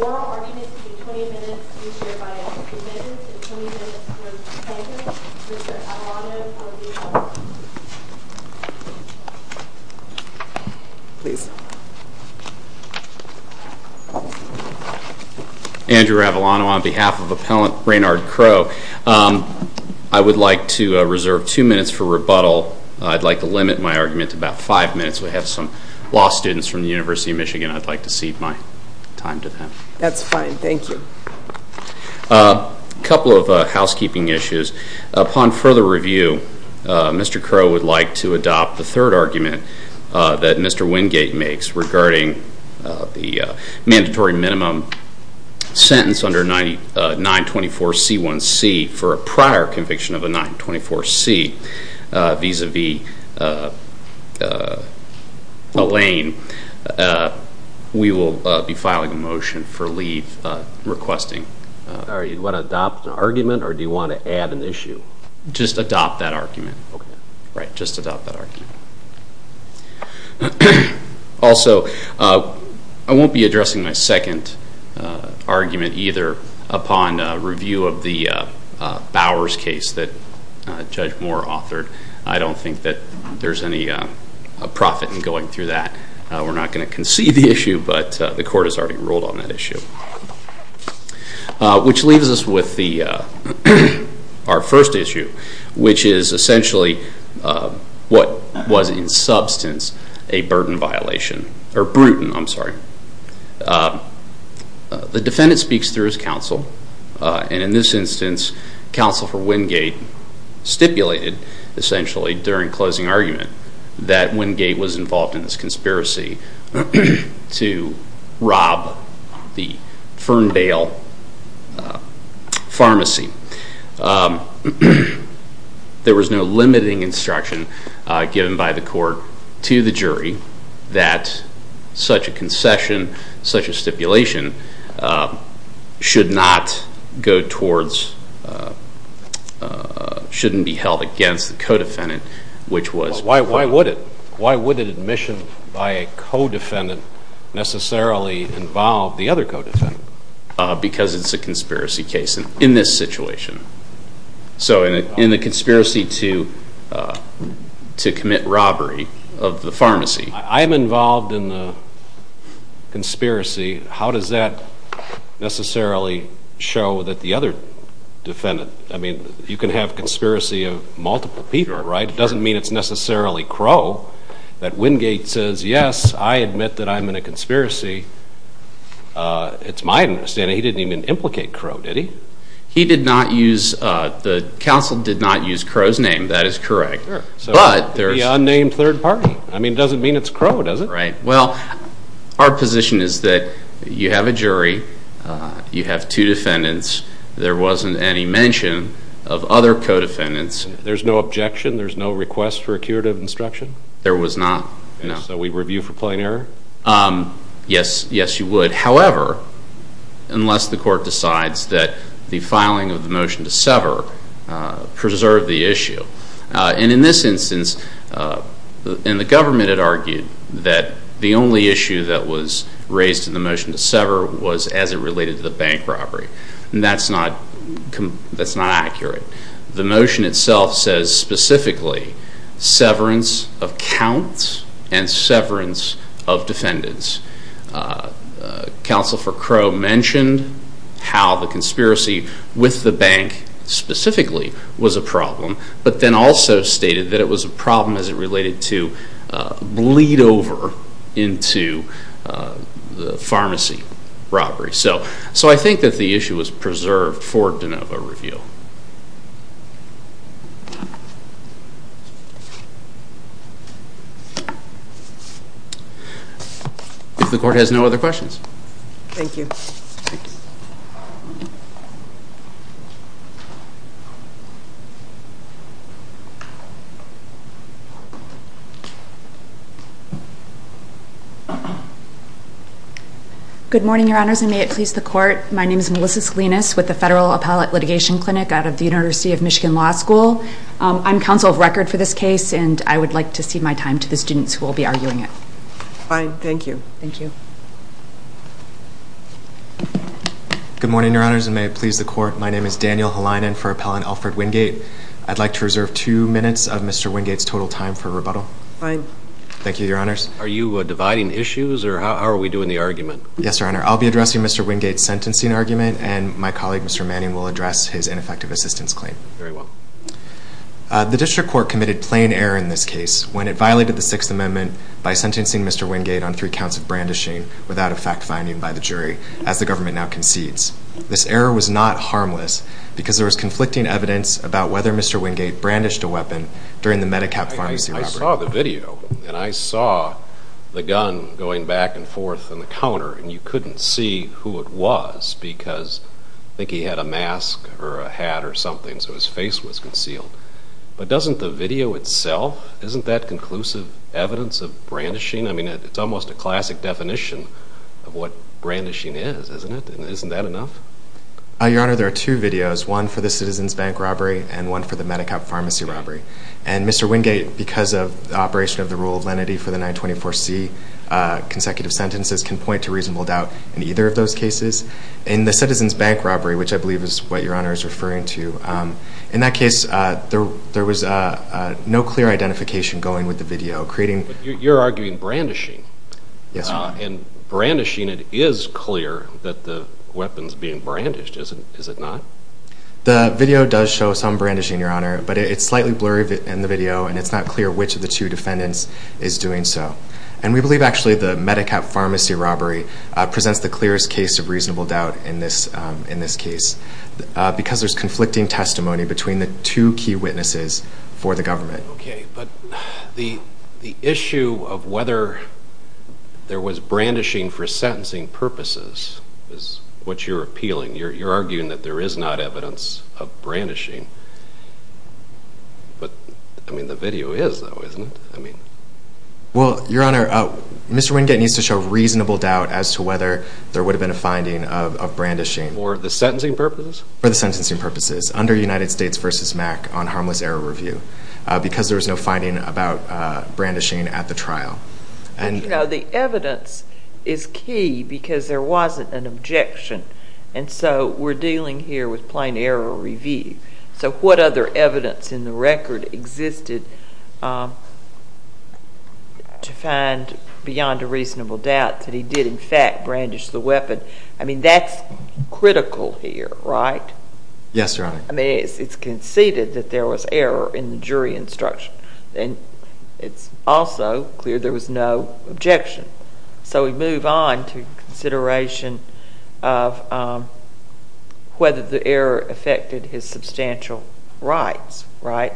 oral arguments between 20 minutes each year by Andrew Mendez and 20 minutes by Mr. Avellano Andrew Avellano, on behalf of Appellant Raynard Crowe, I would like to reserve two minutes for rebuttal. I'd like to limit my argument to about five minutes. We have some law students from the University of Michigan. I'd like to cede my time to them. That's fine, thank you. A couple of housekeeping issues. Upon further review, Mr. Crowe would like to adopt the third argument that Mr. Wingate makes regarding the mandatory minimum sentence under 924C1C for a prior conviction of a 924C vis-à-vis Elaine. We will be filing a motion for leave requesting... Sorry, you want to adopt an argument or do you want to add an issue? Just adopt that argument. Right, just adopt that argument. Also, I won't be addressing my second argument either upon review of the Bowers case that Judge Moore authored. I don't think that there's any profit in going through that. We're not going to concede the issue, but the court has already ruled on that issue. Which leaves us with our first issue, which is essentially what was in substance a brutal violation. The defendant speaks through his counsel, and in this instance, Counsel for Wingate stipulated essentially during closing argument that Wingate was involved in this conspiracy to rob the Ferndale Pharmacy. There was no limiting instruction given by the court to the jury that such a concession, such a stipulation, shouldn't be held against the co-defendant. Why would it? Why would an admission by a co-defendant necessarily involve the other co-defendant? Because it's a conspiracy case in this situation. So in the conspiracy to commit robbery of the pharmacy. I'm involved in the conspiracy. How does that necessarily show that the other defendant, I mean, you can have conspiracy of multiple people, right? It doesn't mean it's necessarily Crow that Wingate says, yes, I admit that I'm in a conspiracy. It's my understanding he didn't even implicate Crow, did he? He did not use, the counsel did not use Crow's name, that is correct. The unnamed third party. I mean, it doesn't mean it's Crow, does it? Well, our position is that you have a jury, you have two defendants, there wasn't any mention of other co-defendants. There's no objection, there's no request for a curative instruction? There was not, no. And so we review for plain error? Yes, yes you would. However, unless the court decides that the filing of the motion to sever preserved the issue. And in this instance, and the government had argued that the only issue that was raised in the motion to sever was as it related to the bank robbery. And that's not accurate. The motion itself says specifically severance of counts and severance of defendants. Counsel for Crow mentioned how the conspiracy with the bank specifically was a problem, but then also stated that it was a problem as it related to bleed over into the pharmacy robbery. So I think that the issue was preserved for de novo review. If the court has no other questions. Thank you. Good morning, your honors, and may it please the court. My name is Melissa Salinas with the Federal Appellate Litigation Clinic out of the University of Michigan Law School. I'm counsel of record for this case, and I would like to cede my time to the students who will be arguing it. Fine, thank you. Good morning, your honors, and may it please the court. My name is Daniel Helinen for Appellant Alfred Wingate. I'd like to reserve two minutes of Mr. Wingate's total time for rebuttal. Fine. Thank you, your honors. Are you dividing issues, or how are we doing the argument? Yes, your honor. I'll be addressing Mr. Wingate's sentencing argument, and my colleague, Mr. Manning, will address his ineffective assistance claim. Very well. The district court committed plain error in this case when it violated the Sixth Amendment by sentencing Mr. Wingate on three counts of defamation. The defendant was found guilty of brandishing without a fact finding by the jury, as the government now concedes. This error was not harmless because there was conflicting evidence about whether Mr. Wingate brandished a weapon during the MediCap pharmacy robbery. I saw the video, and I saw the gun going back and forth on the counter, and you couldn't see who it was because I think he had a mask or a hat or something, so his face was concealed. But doesn't the video itself, isn't that conclusive evidence of brandishing? I mean, it's almost a classic definition of what brandishing is, isn't it? Isn't that enough? Your honor, there are two videos, one for the Citizens Bank robbery and one for the MediCap pharmacy robbery. And Mr. Wingate, because of the operation of the rule of lenity for the 924C consecutive sentences, can point to reasonable doubt in either of those cases. In the Citizens Bank robbery, which I believe is what your honor is referring to, in that case, there was no clear identification going with the video. But you're arguing brandishing. Yes, your honor. And brandishing, it is clear that the weapon's being brandished, is it not? The video does show some brandishing, your honor, but it's slightly blurry in the video, and it's not clear which of the two defendants is doing so. And we believe actually the MediCap pharmacy robbery presents the clearest case of reasonable doubt in this case because there's conflicting testimony between the two key witnesses for the government. Okay, but the issue of whether there was brandishing for sentencing purposes is what you're appealing. You're arguing that there is not evidence of brandishing. But, I mean, the video is, though, isn't it? Well, your honor, Mr. Wingate needs to show reasonable doubt as to whether there would have been a finding of brandishing. For the sentencing purposes? For the sentencing purposes, under United States v. MAC on harmless error review, because there was no finding about brandishing at the trial. You know, the evidence is key because there wasn't an objection. And so we're dealing here with plain error review. So what other evidence in the record existed to find beyond a reasonable doubt that he did, in fact, brandish the weapon? I mean, that's critical here, right? Yes, your honor. I mean, it's conceded that there was error in the jury instruction. And it's also clear there was no objection. So we move on to consideration of whether the error affected his substantial rights, right?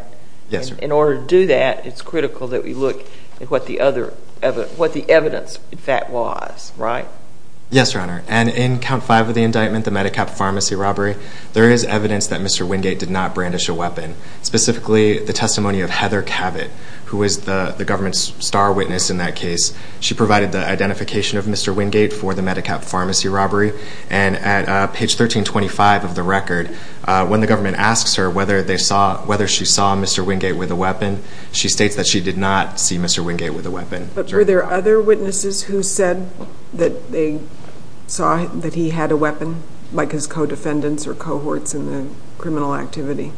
Yes, your honor. In order to do that, it's critical that we look at what the evidence, in fact, was, right? Yes, your honor. And in count five of the indictment, the MediCap pharmacy robbery, there is evidence that Mr. Wingate did not brandish a weapon. Specifically, the testimony of Heather Cabot, who was the government's star witness in that case. She provided the identification of Mr. Wingate for the MediCap pharmacy robbery. And at page 1325 of the record, when the government asks her whether she saw Mr. Wingate with a weapon, she states that she did not see Mr. Wingate with a weapon. But were there other witnesses who said that they saw that he had a weapon, like his co-defendants or cohorts in the criminal activity?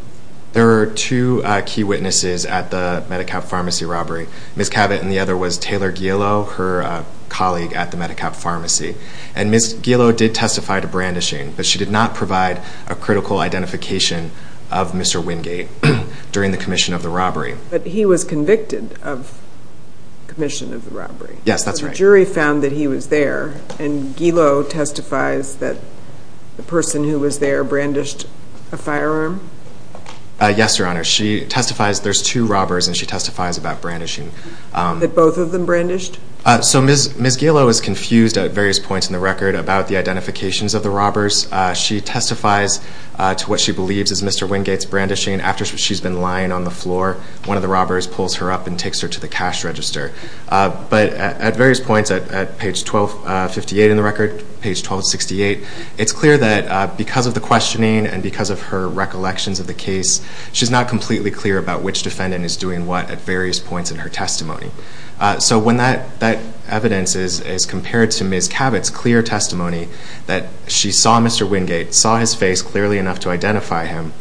There are two key witnesses at the MediCap pharmacy robbery. Ms. Cabot and the other was Taylor Gielo, her colleague at the MediCap pharmacy. And Ms. Gielo did testify to brandishing, but she did not provide a critical identification of Mr. Wingate during the commission of the robbery. But he was convicted of commission of the robbery. Yes, that's right. So the jury found that he was there, and Gielo testifies that the person who was there brandished a firearm? Yes, Your Honor. She testifies there's two robbers and she testifies about brandishing. That both of them brandished? So Ms. Gielo is confused at various points in the record about the identifications of the robbers. She testifies to what she believes is Mr. Wingate's brandishing after she's been lying on the floor. One of the robbers pulls her up and takes her to the cash register. But at various points, at page 1258 in the record, page 1268, it's clear that because of the questioning and because of her recollections of the case, she's not completely clear about which defendant is doing what at various points in her testimony. So when that evidence is compared to Ms. Cabot's clear testimony that she saw Mr. Wingate, saw his face clearly enough to identify him,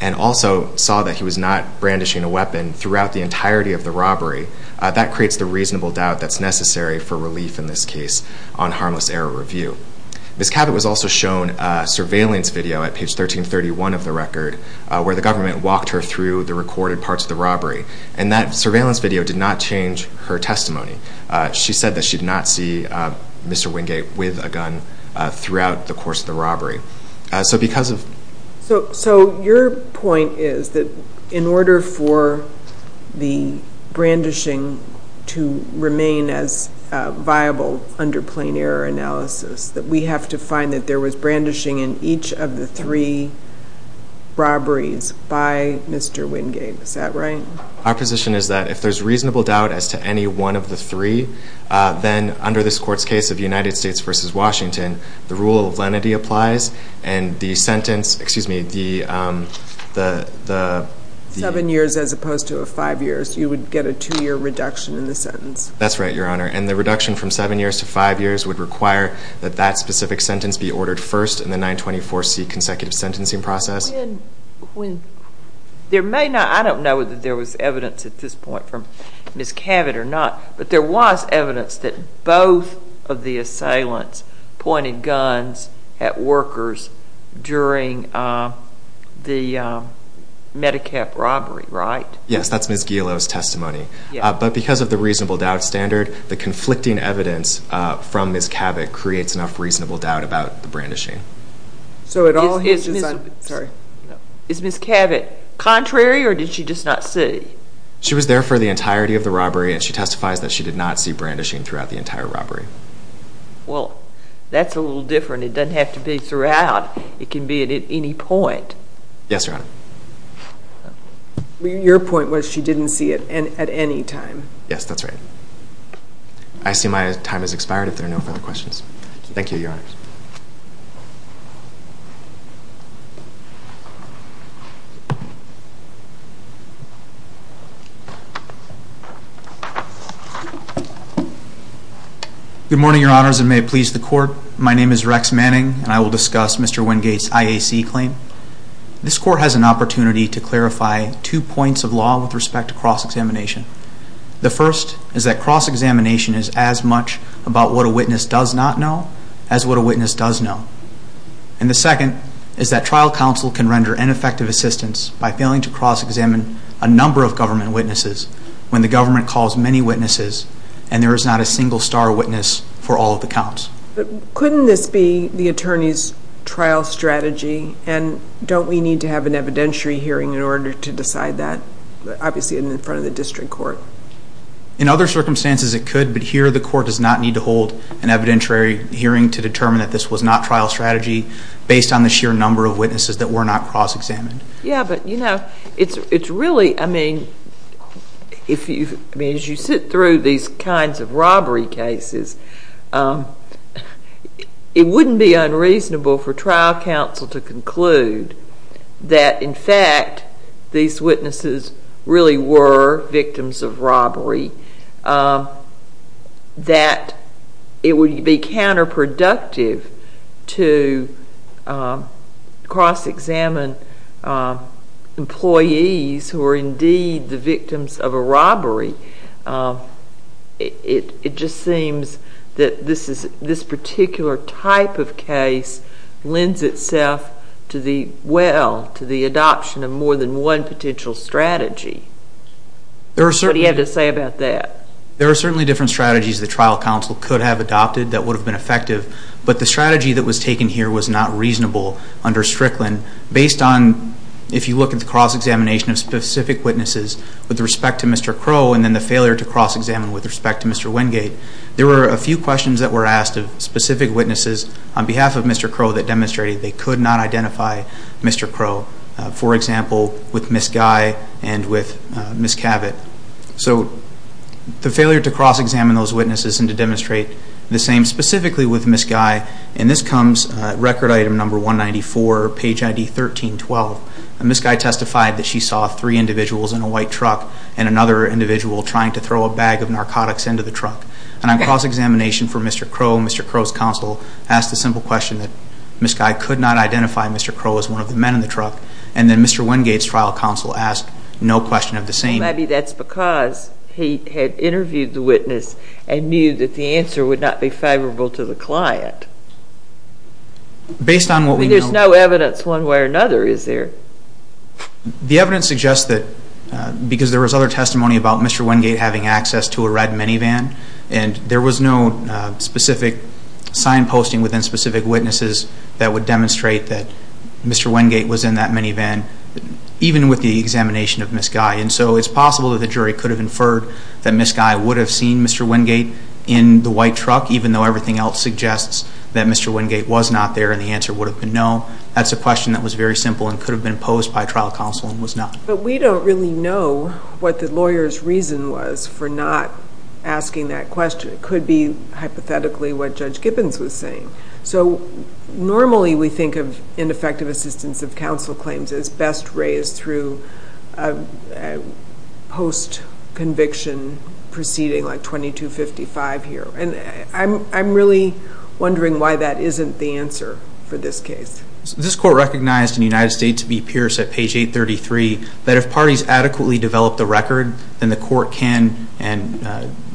and also saw that he was not brandishing a weapon throughout the entirety of the robbery, that creates the reasonable doubt that's necessary for relief in this case on harmless error review. Ms. Cabot was also shown a surveillance video at page 1331 of the record where the government walked her through the recorded parts of the robbery, and that surveillance video did not change her testimony. She said that she did not see Mr. Wingate with a gun throughout the course of the robbery. So because of... So your point is that in order for the brandishing to remain as viable under plain error analysis, that we have to find that there was brandishing in each of the three robberies by Mr. Wingate. Is that right? Our position is that if there's reasonable doubt as to any one of the three, then under this court's case of United States v. Washington, the rule of lenity applies and the sentence, excuse me, the... Seven years as opposed to five years. You would get a two-year reduction in the sentence. That's right, Your Honor, and the reduction from seven years to five years would require that that specific sentence be ordered first in the 924C consecutive sentencing process. There may not... I don't know that there was evidence at this point from Ms. Cavett or not, but there was evidence that both of the assailants pointed guns at workers during the MediCap robbery, right? Yes, that's Ms. Gilo's testimony. But because of the reasonable doubt standard, the conflicting evidence from Ms. Cavett creates enough reasonable doubt about the brandishing. So it all hinges on... Is Ms. Cavett contrary or did she just not see? She was there for the entirety of the robbery, and she testifies that she did not see brandishing throughout the entire robbery. Well, that's a little different. It doesn't have to be throughout. It can be at any point. Yes, Your Honor. Your point was she didn't see it at any time. Yes, that's right. I see my time has expired if there are no further questions. Thank you, Your Honors. Good morning, Your Honors, and may it please the Court. My name is Rex Manning, and I will discuss Mr. Wingate's IAC claim. This Court has an opportunity to clarify two points of law with respect to cross-examination. The first is that cross-examination is as much about what a witness does not know as what a witness does know. And the second is that trial counsel can render ineffective assistance by failing to cross-examine a number of government witnesses when the government calls many witnesses and there is not a single star witness for all of the counts. Couldn't this be the attorney's trial strategy, and don't we need to have an evidentiary hearing in order to decide that? Obviously, in front of the district court. In other circumstances, it could, but here the court does not need to hold an evidentiary hearing to determine that this was not trial strategy based on the sheer number of witnesses that were not cross-examined. Yes, but, you know, it's really, I mean, as you sit through these kinds of robbery cases, it wouldn't be unreasonable for trial counsel to conclude that, in fact, these witnesses really were victims of robbery, that it would be counterproductive to cross-examine employees who are indeed the victims of a robbery. It just seems that this particular type of case lends itself well to the adoption of more than one potential strategy. What do you have to say about that? There are certainly different strategies that trial counsel could have adopted that would have been effective, but the strategy that was taken here was not reasonable under Strickland based on, if you look at the cross-examination of specific witnesses with respect to Mr. Crowe and then the failure to cross-examine with respect to Mr. Wingate. There were a few questions that were asked of specific witnesses on behalf of Mr. Crowe that demonstrated they could not identify Mr. Crowe, for example, with Ms. Guy and with Ms. Cavett. So the failure to cross-examine those witnesses and to demonstrate the same specifically with Ms. Guy, and this comes at record item number 194, page ID 1312. Ms. Guy testified that she saw three individuals in a white truck and another individual trying to throw a bag of narcotics into the truck. And on cross-examination for Mr. Crowe, Mr. Crowe's counsel asked a simple question that Ms. Guy could not identify Mr. Crowe as one of the men in the truck, and then Mr. Wingate's trial counsel asked no question of the same. Maybe that's because he had interviewed the witness and knew that the answer would not be favorable to the client. Based on what we know. There's no evidence one way or another, is there? The evidence suggests that because there was other testimony about Mr. Wingate having access to a red minivan, and there was no specific signposting within specific witnesses that would demonstrate that Mr. Wingate was in that minivan, even with the examination of Ms. Guy. And so it's possible that the jury could have inferred that Ms. Guy would have seen Mr. Wingate in the white truck, even though everything else suggests that Mr. Wingate was not there and the answer would have been no. That's a question that was very simple and could have been posed by trial counsel and was not. But we don't really know what the lawyer's reason was for not asking that question. It could be hypothetically what Judge Gibbons was saying. So normally we think of ineffective assistance of counsel claims as best raised through post-conviction proceeding, like 2255 here. And I'm really wondering why that isn't the answer for this case. This court recognized in the United States v. Pierce at page 833 that if parties adequately develop the record, then the court can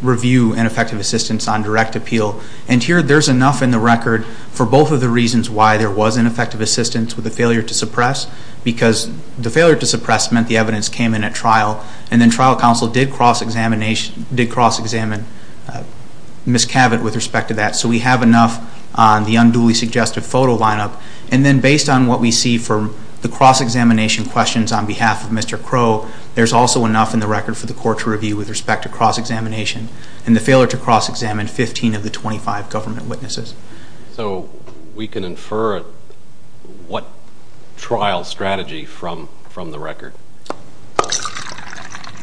review ineffective assistance on direct appeal. And here there's enough in the record for both of the reasons why there was ineffective assistance with the failure to suppress, because the failure to suppress meant the evidence came in at trial, and then trial counsel did cross-examine Ms. Cavett with respect to that. So we have enough on the unduly suggestive photo lineup. And then based on what we see from the cross-examination questions on behalf of Mr. Crow, there's also enough in the record for the court to review with respect to cross-examination and the failure to cross-examine 15 of the 25 government witnesses. So we can infer what trial strategy from the record?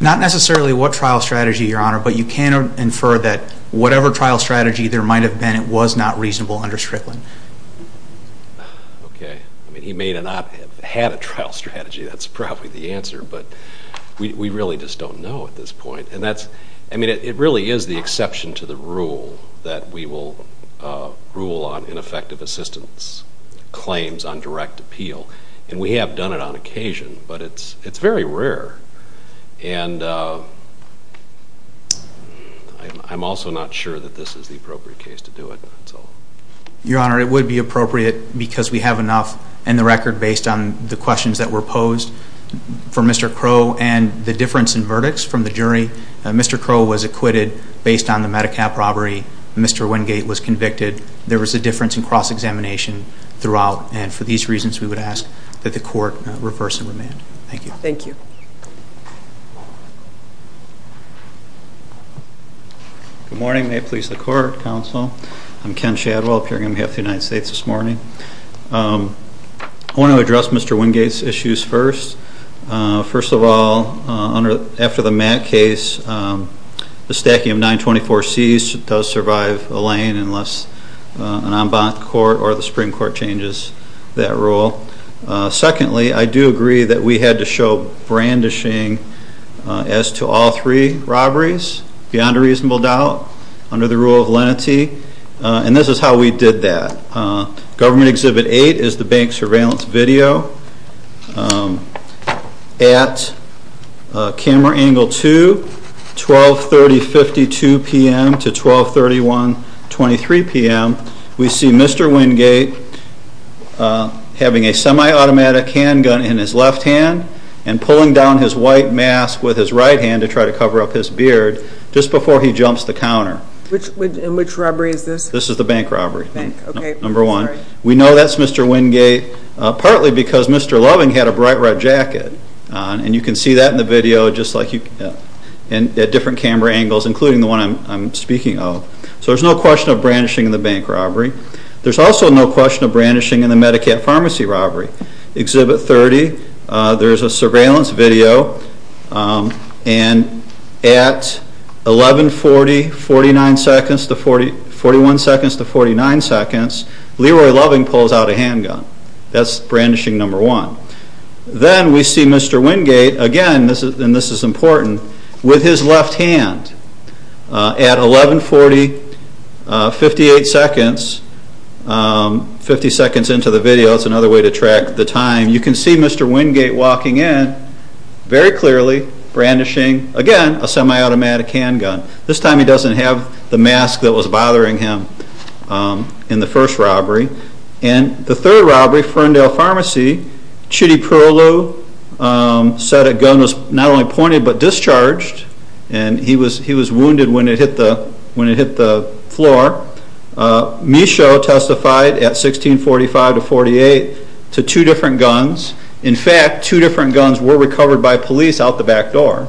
Not necessarily what trial strategy, Your Honor, but you can infer that whatever trial strategy there might have been, it was not reasonable under Strickland. Okay. I mean, he may not have had a trial strategy. That's probably the answer. But we really just don't know at this point. I mean, it really is the exception to the rule that we will rule on ineffective assistance claims on direct appeal. And we have done it on occasion, but it's very rare. And I'm also not sure that this is the appropriate case to do it. Your Honor, it would be appropriate because we have enough in the record based on the questions that were posed for Mr. Crow and the difference in verdicts from the jury. Mr. Crow was acquitted based on the MediCap robbery. Mr. Wingate was convicted. There was a difference in cross-examination throughout. And for these reasons, we would ask that the court reverse the remand. Thank you. Good morning. May it please the Court, Counsel. I'm Ken Shadwell, appearing on behalf of the United States this morning. I want to address Mr. Wingate's issues first. First of all, after the Matt case, the stacking of 924Cs does survive a lane unless an en banc court or the Supreme Court changes that rule. Secondly, I do agree that we had to show brandishing as to all three robberies, beyond a reasonable doubt, under the rule of lenity. And this is how we did that. Government Exhibit 8 is the bank surveillance video. At camera angle 2, 1230.52 p.m. to 1231.23 p.m., we see Mr. Wingate having a semi-automatic handgun in his left hand and pulling down his white mask with his right hand to try to cover up his beard just before he jumps the counter. And which robbery is this? This is the bank robbery. Bank, okay. Number one. We know that's Mr. Wingate partly because Mr. Loving had a bright red jacket on. And you can see that in the video at different camera angles, including the one I'm speaking of. So there's no question of brandishing in the bank robbery. There's also no question of brandishing in the Medicaid pharmacy robbery. Exhibit 30, there's a surveillance video. And at 1140.41 seconds to 49 seconds, Leroy Loving pulls out a handgun. That's brandishing number one. Then we see Mr. Wingate again, and this is important, with his left hand. At 1140.58 seconds, 50 seconds into the video, that's another way to track the time, you can see Mr. Wingate walking in very clearly, brandishing, again, a semi-automatic handgun. This time he doesn't have the mask that was bothering him in the first robbery. And the third robbery, Ferndale Pharmacy, Chitty Perlo said a gun was not only pointed but discharged. And he was wounded when it hit the floor. Michaud testified at 1645.48 to two different guns. In fact, two different guns were recovered by police out the back door.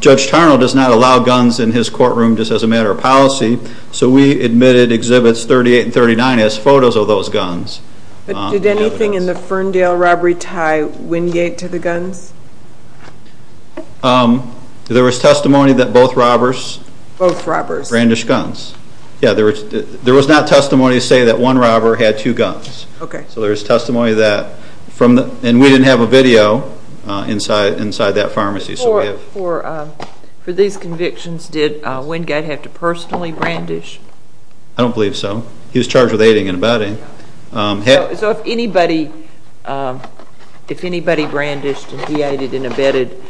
Judge Tarnall does not allow guns in his courtroom just as a matter of policy, so we admitted Exhibits 38 and 39 as photos of those guns. Did anything in the Ferndale robbery tie Wingate to the guns? There was testimony that both robbers brandished guns. There was not testimony to say that one robber had two guns. So there was testimony that, and we didn't have a video inside that pharmacy. For these convictions, did Wingate have to personally brandish? I don't believe so. He was charged with aiding and abetting. So if anybody brandished and he aided and abetted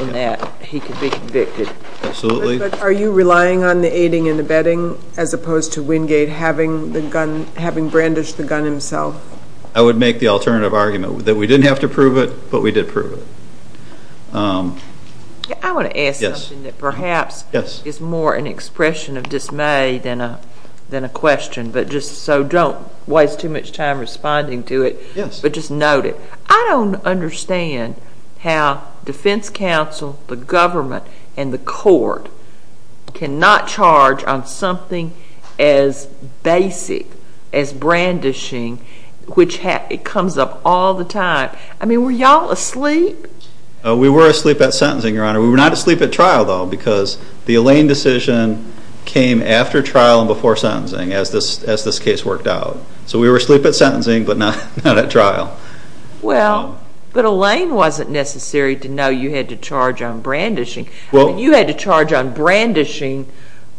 in that, he could be convicted? Absolutely. But are you relying on the aiding and abetting as opposed to Wingate having brandished the gun himself? I would make the alternative argument that we didn't have to prove it, but we did prove it. I want to ask something that perhaps is more an expression of dismay than a question, so don't waste too much time responding to it, but just note it. I don't understand how defense counsel, the government, and the court cannot charge on something as basic as brandishing, which comes up all the time. I mean, were you all asleep? We were asleep at sentencing, Your Honor. We were not asleep at trial, though, because the Elaine decision came after trial and before sentencing, as this case worked out. So we were asleep at sentencing, but not at trial. Well, but Elaine wasn't necessary to know you had to charge on brandishing. You had to charge on brandishing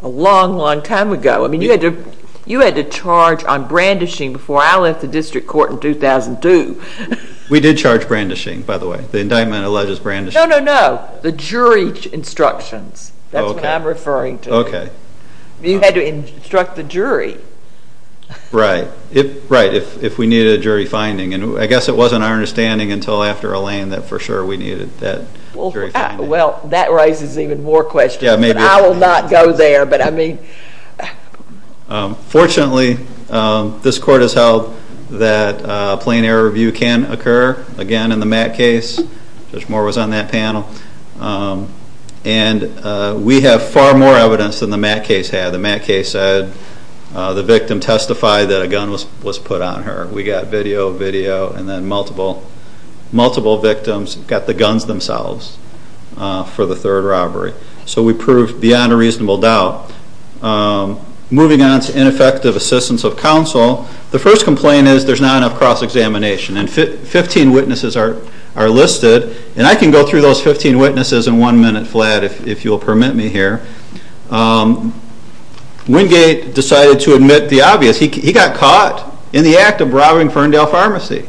a long, long time ago. I mean, you had to charge on brandishing before I left the district court in 2002. We did charge brandishing, by the way. The indictment alleges brandishing. No, no, no, the jury instructions. That's what I'm referring to. Okay. You had to instruct the jury. Right. Right, if we needed a jury finding, and I guess it wasn't our understanding until after Elaine that for sure we needed that jury finding. Well, that raises even more questions. Yeah, maybe. I will not go there, but I mean. Fortunately, this court has held that plain error review can occur, again, in the Matt case. Judge Moore was on that panel. And we have far more evidence than the Matt case had. The Matt case said the victim testified that a gun was put on her. We got video, video, and then multiple victims got the guns themselves for the third robbery. So we proved beyond a reasonable doubt. Moving on to ineffective assistance of counsel. The first complaint is there's not enough cross-examination, and 15 witnesses are listed. And I can go through those 15 witnesses in one minute flat, if you'll permit me here. Wingate decided to admit the obvious. He got caught in the act of robbing Ferndale Pharmacy.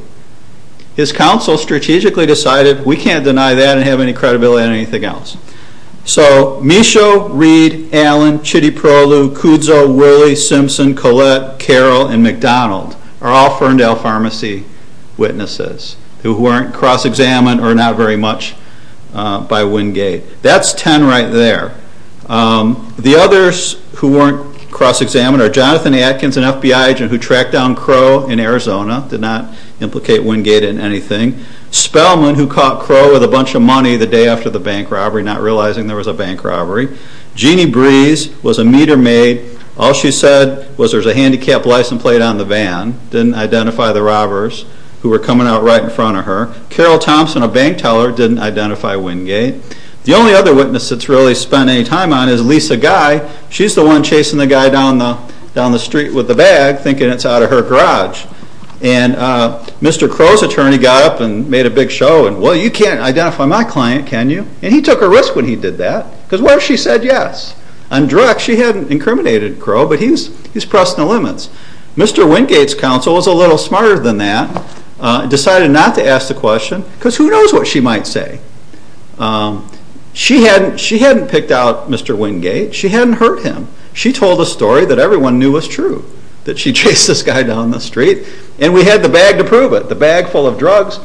His counsel strategically decided we can't deny that and have any credibility on anything else. So Misho, Reed, Allen, Chidiprolu, Kudzo, Woolley, Simpson, Collette, Carroll, and McDonald are all Ferndale Pharmacy witnesses who weren't cross-examined or not very much by Wingate. That's 10 right there. The others who weren't cross-examined are Jonathan Atkins, an FBI agent who tracked down Crow in Arizona, did not implicate Wingate in anything. Spellman, who caught Crow with a bunch of money the day after the bank robbery, not realizing there was a bank robbery. Jeanne Breeze was a meter maid. All she said was there was a handicapped license plate on the van. Didn't identify the robbers who were coming out right in front of her. Carol Thompson, a bank teller, didn't identify Wingate. The only other witness that's really spent any time on is Lisa Guy. She's the one chasing the guy down the street with the bag, thinking it's out of her garage. And Mr. Crow's attorney got up and made a big show, and, well, you can't identify my client, can you? And he took a risk when he did that, because what if she said yes? On direct, she hadn't incriminated Crow, but he's pressing the limits. Mr. Wingate's counsel was a little smarter than that, decided not to ask the question, because who knows what she might say? She hadn't picked out Mr. Wingate. She hadn't hurt him. She told a story that everyone knew was true, that she chased this guy down the street, and we had the bag to prove it, the bag full of drugs,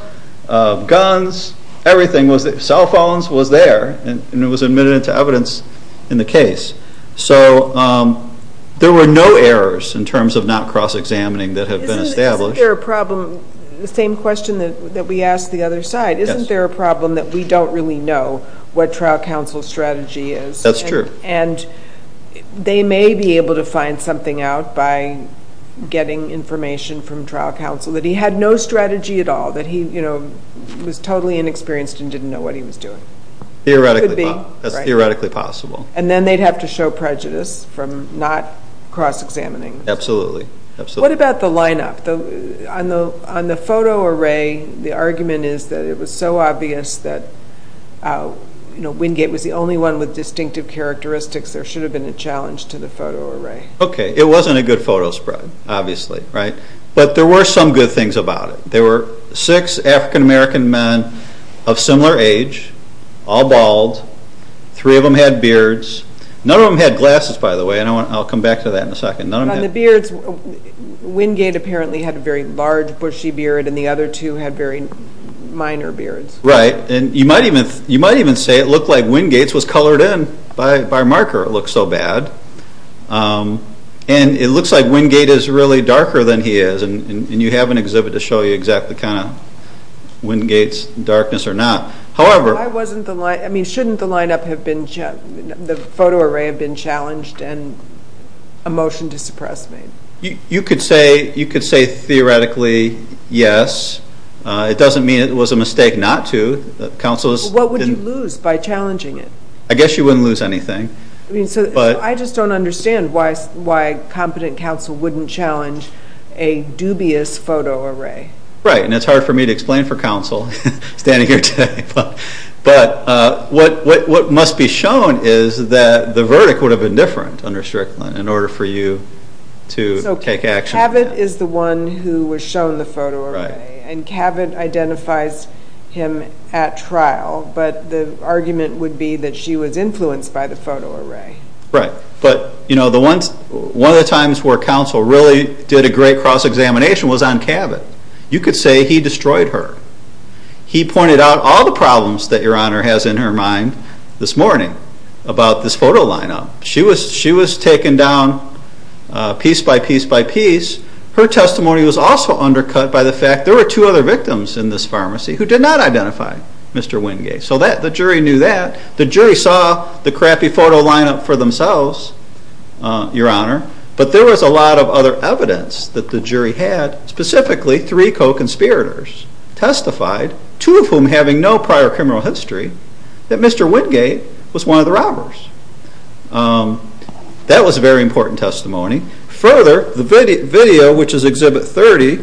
of guns, everything was there. Cell phones was there, and it was admitted into evidence in the case. So there were no errors in terms of not cross-examining that have been established. Isn't there a problem, the same question that we asked the other side, isn't there a problem that we don't really know what trial counsel's strategy is? That's true. And they may be able to find something out by getting information from trial counsel that he had no strategy at all, that he was totally inexperienced and didn't know what he was doing. Theoretically, that's theoretically possible. And then they'd have to show prejudice from not cross-examining. Absolutely. What about the lineup? On the photo array, the argument is that it was so obvious that Wingate was the only one with distinctive characteristics, there should have been a challenge to the photo array. Okay, it wasn't a good photo spread, obviously, right? But there were some good things about it. There were six African-American men of similar age, all bald, three of them had beards. None of them had glasses, by the way, and I'll come back to that in a second. On the beards, Wingate apparently had a very large, bushy beard, and the other two had very minor beards. Right, and you might even say it looked like Wingate's was colored in by a marker. It looked so bad. And it looks like Wingate is really darker than he is, and you have an exhibit to show you exactly kind of Wingate's darkness or not. I mean, shouldn't the photo array have been challenged and a motion to suppress me? You could say theoretically yes. It doesn't mean it was a mistake not to. What would you lose by challenging it? I guess you wouldn't lose anything. I just don't understand why competent counsel wouldn't challenge a dubious photo array. Right, and it's hard for me to explain for counsel standing here today. But what must be shown is that the verdict would have been different under Strickland in order for you to take action. Cavett is the one who was shown the photo array, and Cavett identifies him at trial, but the argument would be that she was influenced by the photo array. Right, but one of the times where counsel really did a great cross-examination was on Cavett. You could say he destroyed her. He pointed out all the problems that Your Honor has in her mind this morning about this photo lineup. She was taken down piece by piece by piece. Her testimony was also undercut by the fact there were two other victims in this pharmacy who did not identify Mr. Wingate. So the jury knew that. The jury saw the crappy photo lineup for themselves, Your Honor, but there was a lot of other evidence that the jury had, specifically three co-conspirators testified, two of whom having no prior criminal history, that Mr. Wingate was one of the robbers. That was very important testimony. Further, the video, which is Exhibit 30,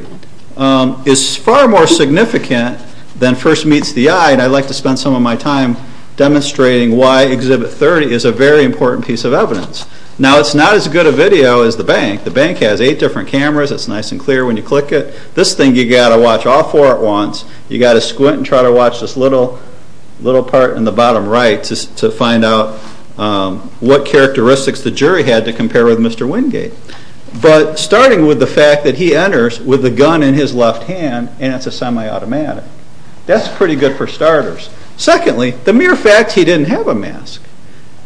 is far more significant than first meets the eye, and I'd like to spend some of my time demonstrating why Exhibit 30 is a very important piece of evidence. Now it's not as good a video as the bank. The bank has eight different cameras. It's nice and clear when you click it. This thing you've got to watch all four at once. You've got to squint and try to watch this little part in the bottom right to find out what characteristics the jury had to compare with Mr. Wingate. But starting with the fact that he enters with a gun in his left hand, and it's a semi-automatic, that's pretty good for starters. Secondly, the mere fact he didn't have a mask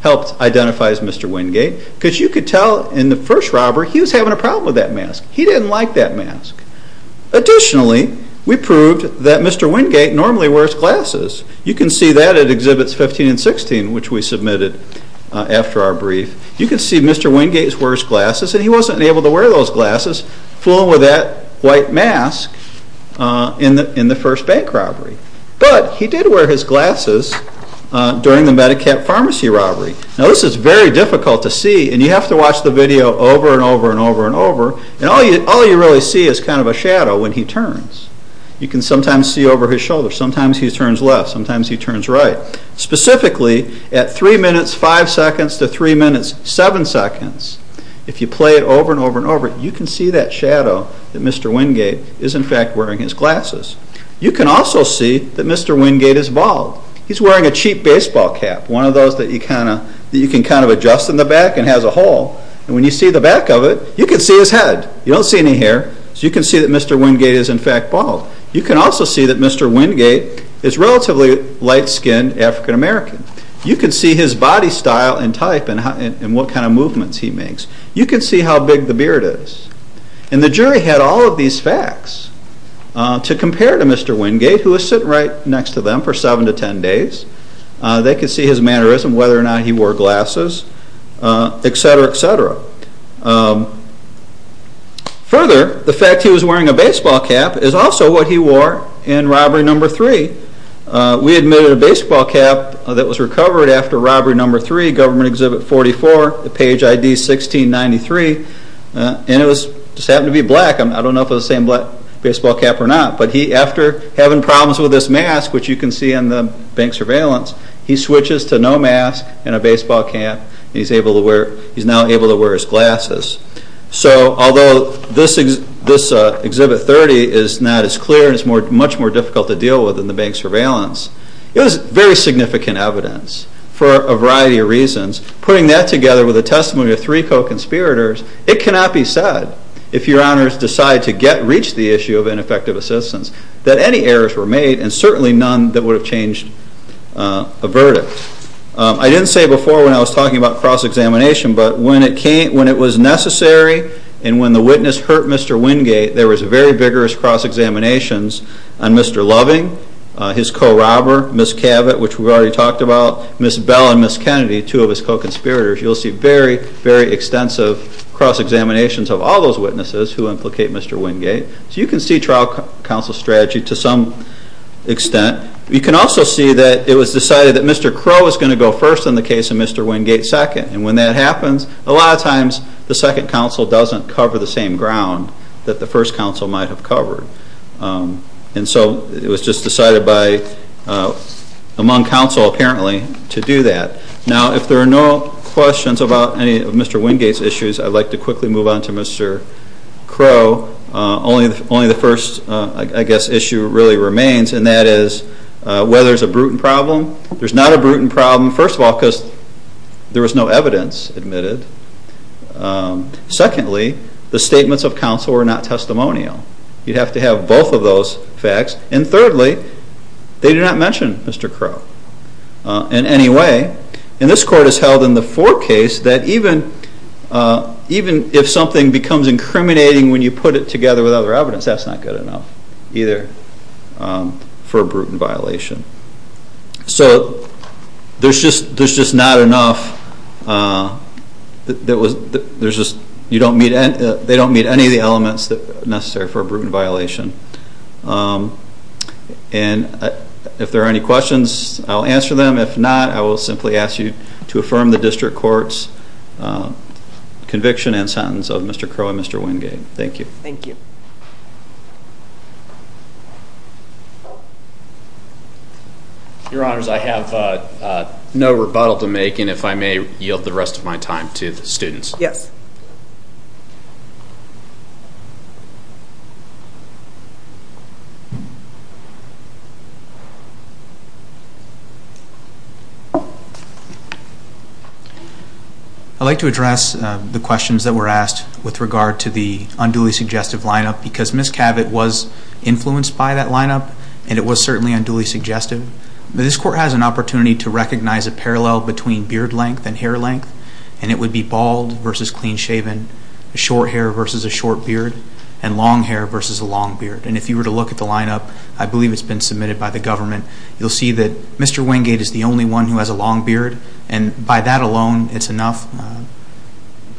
helped identify as Mr. Wingate because you could tell in the first robber he was having a problem with that mask. He didn't like that mask. Additionally, we proved that Mr. Wingate normally wears glasses. You can see that at Exhibits 15 and 16, which we submitted after our brief. You can see Mr. Wingate wears glasses, and he wasn't able to wear those glasses, fooling with that white mask in the first bank robbery. But he did wear his glasses during the Medi-Cap pharmacy robbery. Now this is very difficult to see, and you have to watch the video over and over and over and over, and all you really see is kind of a shadow when he turns. You can sometimes see over his shoulder, sometimes he turns left, sometimes he turns right. Specifically, at 3 minutes 5 seconds to 3 minutes 7 seconds, if you play it over and over and over, you can see that shadow that Mr. Wingate is in fact wearing his glasses. You can also see that Mr. Wingate is bald. He's wearing a cheap baseball cap, one of those that you can kind of adjust in the back and has a hole, and when you see the back of it, you can see his head. You don't see any hair, so you can see that Mr. Wingate is in fact bald. You can also see that Mr. Wingate is relatively light-skinned African-American. You can see his body style and type and what kind of movements he makes. You can see how big the beard is. And the jury had all of these facts to compare to Mr. Wingate, who was sitting right next to them for 7 to 10 days. They could see his mannerism, whether or not he wore glasses, etc., etc. Further, the fact he was wearing a baseball cap is also what he wore in robbery number 3. We admitted a baseball cap that was recovered after robbery number 3, Government Exhibit 44, the page ID 1693, and it just happened to be black. I don't know if it was the same baseball cap or not, but after having problems with this mask, which you can see in the bank surveillance, he switches to no mask and a baseball cap, and he's now able to wear his glasses. So although this Exhibit 30 is not as clear, it's much more difficult to deal with in the bank surveillance, it was very significant evidence for a variety of reasons. Putting that together with a testimony of three co-conspirators, it cannot be said, if your honors decide to reach the issue of ineffective assistance, that any errors were made and certainly none that would have changed a verdict. I didn't say before when I was talking about cross-examination, but when it was necessary and when the witness hurt Mr. Wingate, there was very vigorous cross-examinations on Mr. Loving, his co-robber, Ms. Cavett, which we've already talked about, Ms. Bell and Ms. Kennedy, two of his co-conspirators. You'll see very, very extensive cross-examinations of all those witnesses who implicate Mr. Wingate. So you can see trial counsel strategy to some extent. You can also see that it was decided that Mr. Crowe was going to go first in the case of Mr. Wingate second, and when that happens, a lot of times the second counsel doesn't cover the same ground that the first counsel might have covered. And so it was just decided among counsel, apparently, to do that. Now, if there are no questions about any of Mr. Wingate's issues, I'd like to quickly move on to Mr. Crowe. Only the first, I guess, issue really remains, and that is whether there's a brutal problem. There's not a brutal problem, first of all, because there was no evidence admitted. Secondly, the statements of counsel were not testimonial. You'd have to have both of those facts. And thirdly, they did not mention Mr. Crowe in any way. And this court has held in the fourth case that even if something becomes incriminating when you put it together with other evidence, that's not good enough either for a brutal violation. So there's just not enough. You don't meet any of the elements necessary for a brutal violation. And if there are any questions, I'll answer them. If not, I will simply ask you to affirm the district court's conviction and sentence of Mr. Crowe and Mr. Wingate. Thank you. Your Honors, I have no rebuttal to make, and if I may, yield the rest of my time to the students. Yes. I'd like to address the questions that were asked with regard to the unduly significant because Ms. Cavett was influenced by that lineup, and it was certainly unduly suggestive. This court has an opportunity to recognize a parallel between beard length and hair length, and it would be bald versus clean-shaven, short hair versus a short beard, and long hair versus a long beard. And if you were to look at the lineup, I believe it's been submitted by the government, you'll see that Mr. Wingate is the only one who has a long beard, and by that alone, it's enough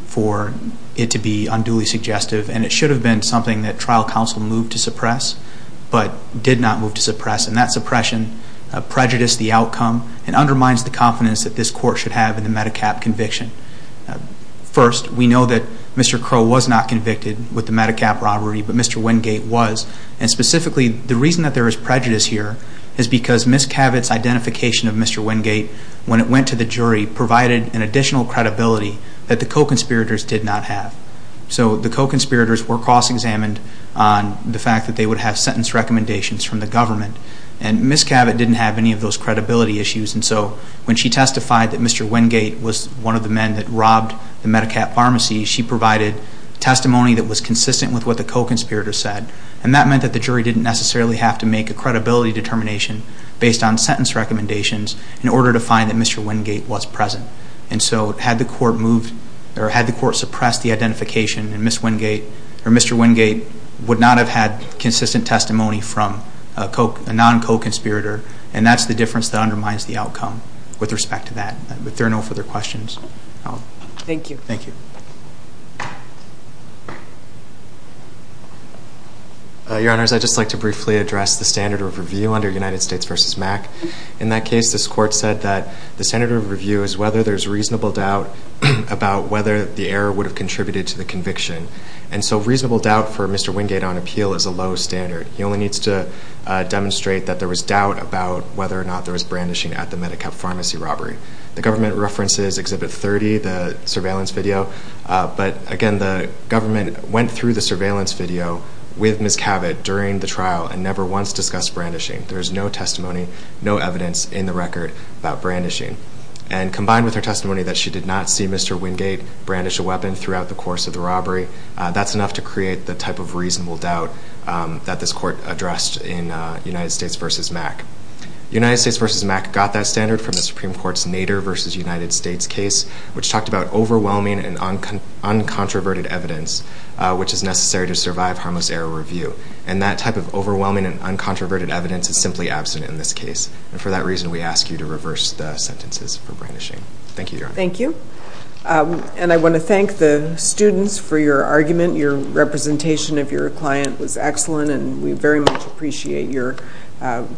for it to be unduly suggestive. And it should have been something that trial counsel moved to suppress but did not move to suppress, and that suppression prejudiced the outcome and undermines the confidence that this court should have in the MediCap conviction. First, we know that Mr. Crowe was not convicted with the MediCap robbery, but Mr. Wingate was. And specifically, the reason that there is prejudice here is because Ms. Cavett's identification of Mr. Wingate when it went to the jury provided an additional credibility that the co-conspirators did not have. So the co-conspirators were cross-examined on the fact that they would have sentence recommendations from the government, and Ms. Cavett didn't have any of those credibility issues. And so when she testified that Mr. Wingate was one of the men that robbed the MediCap pharmacy, she provided testimony that was consistent with what the co-conspirators said, and that meant that the jury didn't necessarily have to make a credibility determination based on sentence recommendations in order to find that Mr. Wingate was present. And so had the court suppressed the identification, Mr. Wingate would not have had consistent testimony from a non-co-conspirator, and that's the difference that undermines the outcome with respect to that. But there are no further questions. Thank you. Thank you. Your Honors, I'd just like to briefly address the standard of review under United States v. MAC. In that case, this court said that the standard of review is whether there's reasonable doubt about whether the error would have contributed to the conviction. And so reasonable doubt for Mr. Wingate on appeal is a low standard. He only needs to demonstrate that there was doubt about whether or not there was brandishing at the MediCap pharmacy robbery. The government references Exhibit 30, the surveillance video, but, again, the government went through the surveillance video with Ms. Cavett during the trial and never once discussed brandishing. There is no testimony, no evidence in the record about brandishing. And combined with her testimony that she did not see Mr. Wingate brandish a weapon throughout the course of the robbery, that's enough to create the type of reasonable doubt that this court addressed in United States v. MAC. United States v. MAC got that standard from the Supreme Court's Nader v. United States case, which talked about overwhelming and uncontroverted evidence, which is necessary to survive harmless error review. And that type of overwhelming and uncontroverted evidence is simply absent in this case. And for that reason, we ask you to reverse the sentences for brandishing. Thank you, Your Honor. Thank you. And I want to thank the students for your argument. Your representation of your client was excellent, and we very much appreciate your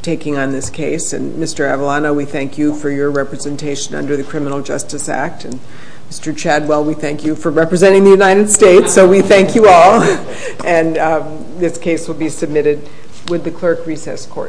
taking on this case. And, Mr. Avalano, we thank you for your representation under the Criminal Justice Act. And, Mr. Chadwell, we thank you for representing the United States, so we thank you all. And this case will be submitted with the clerk recess court.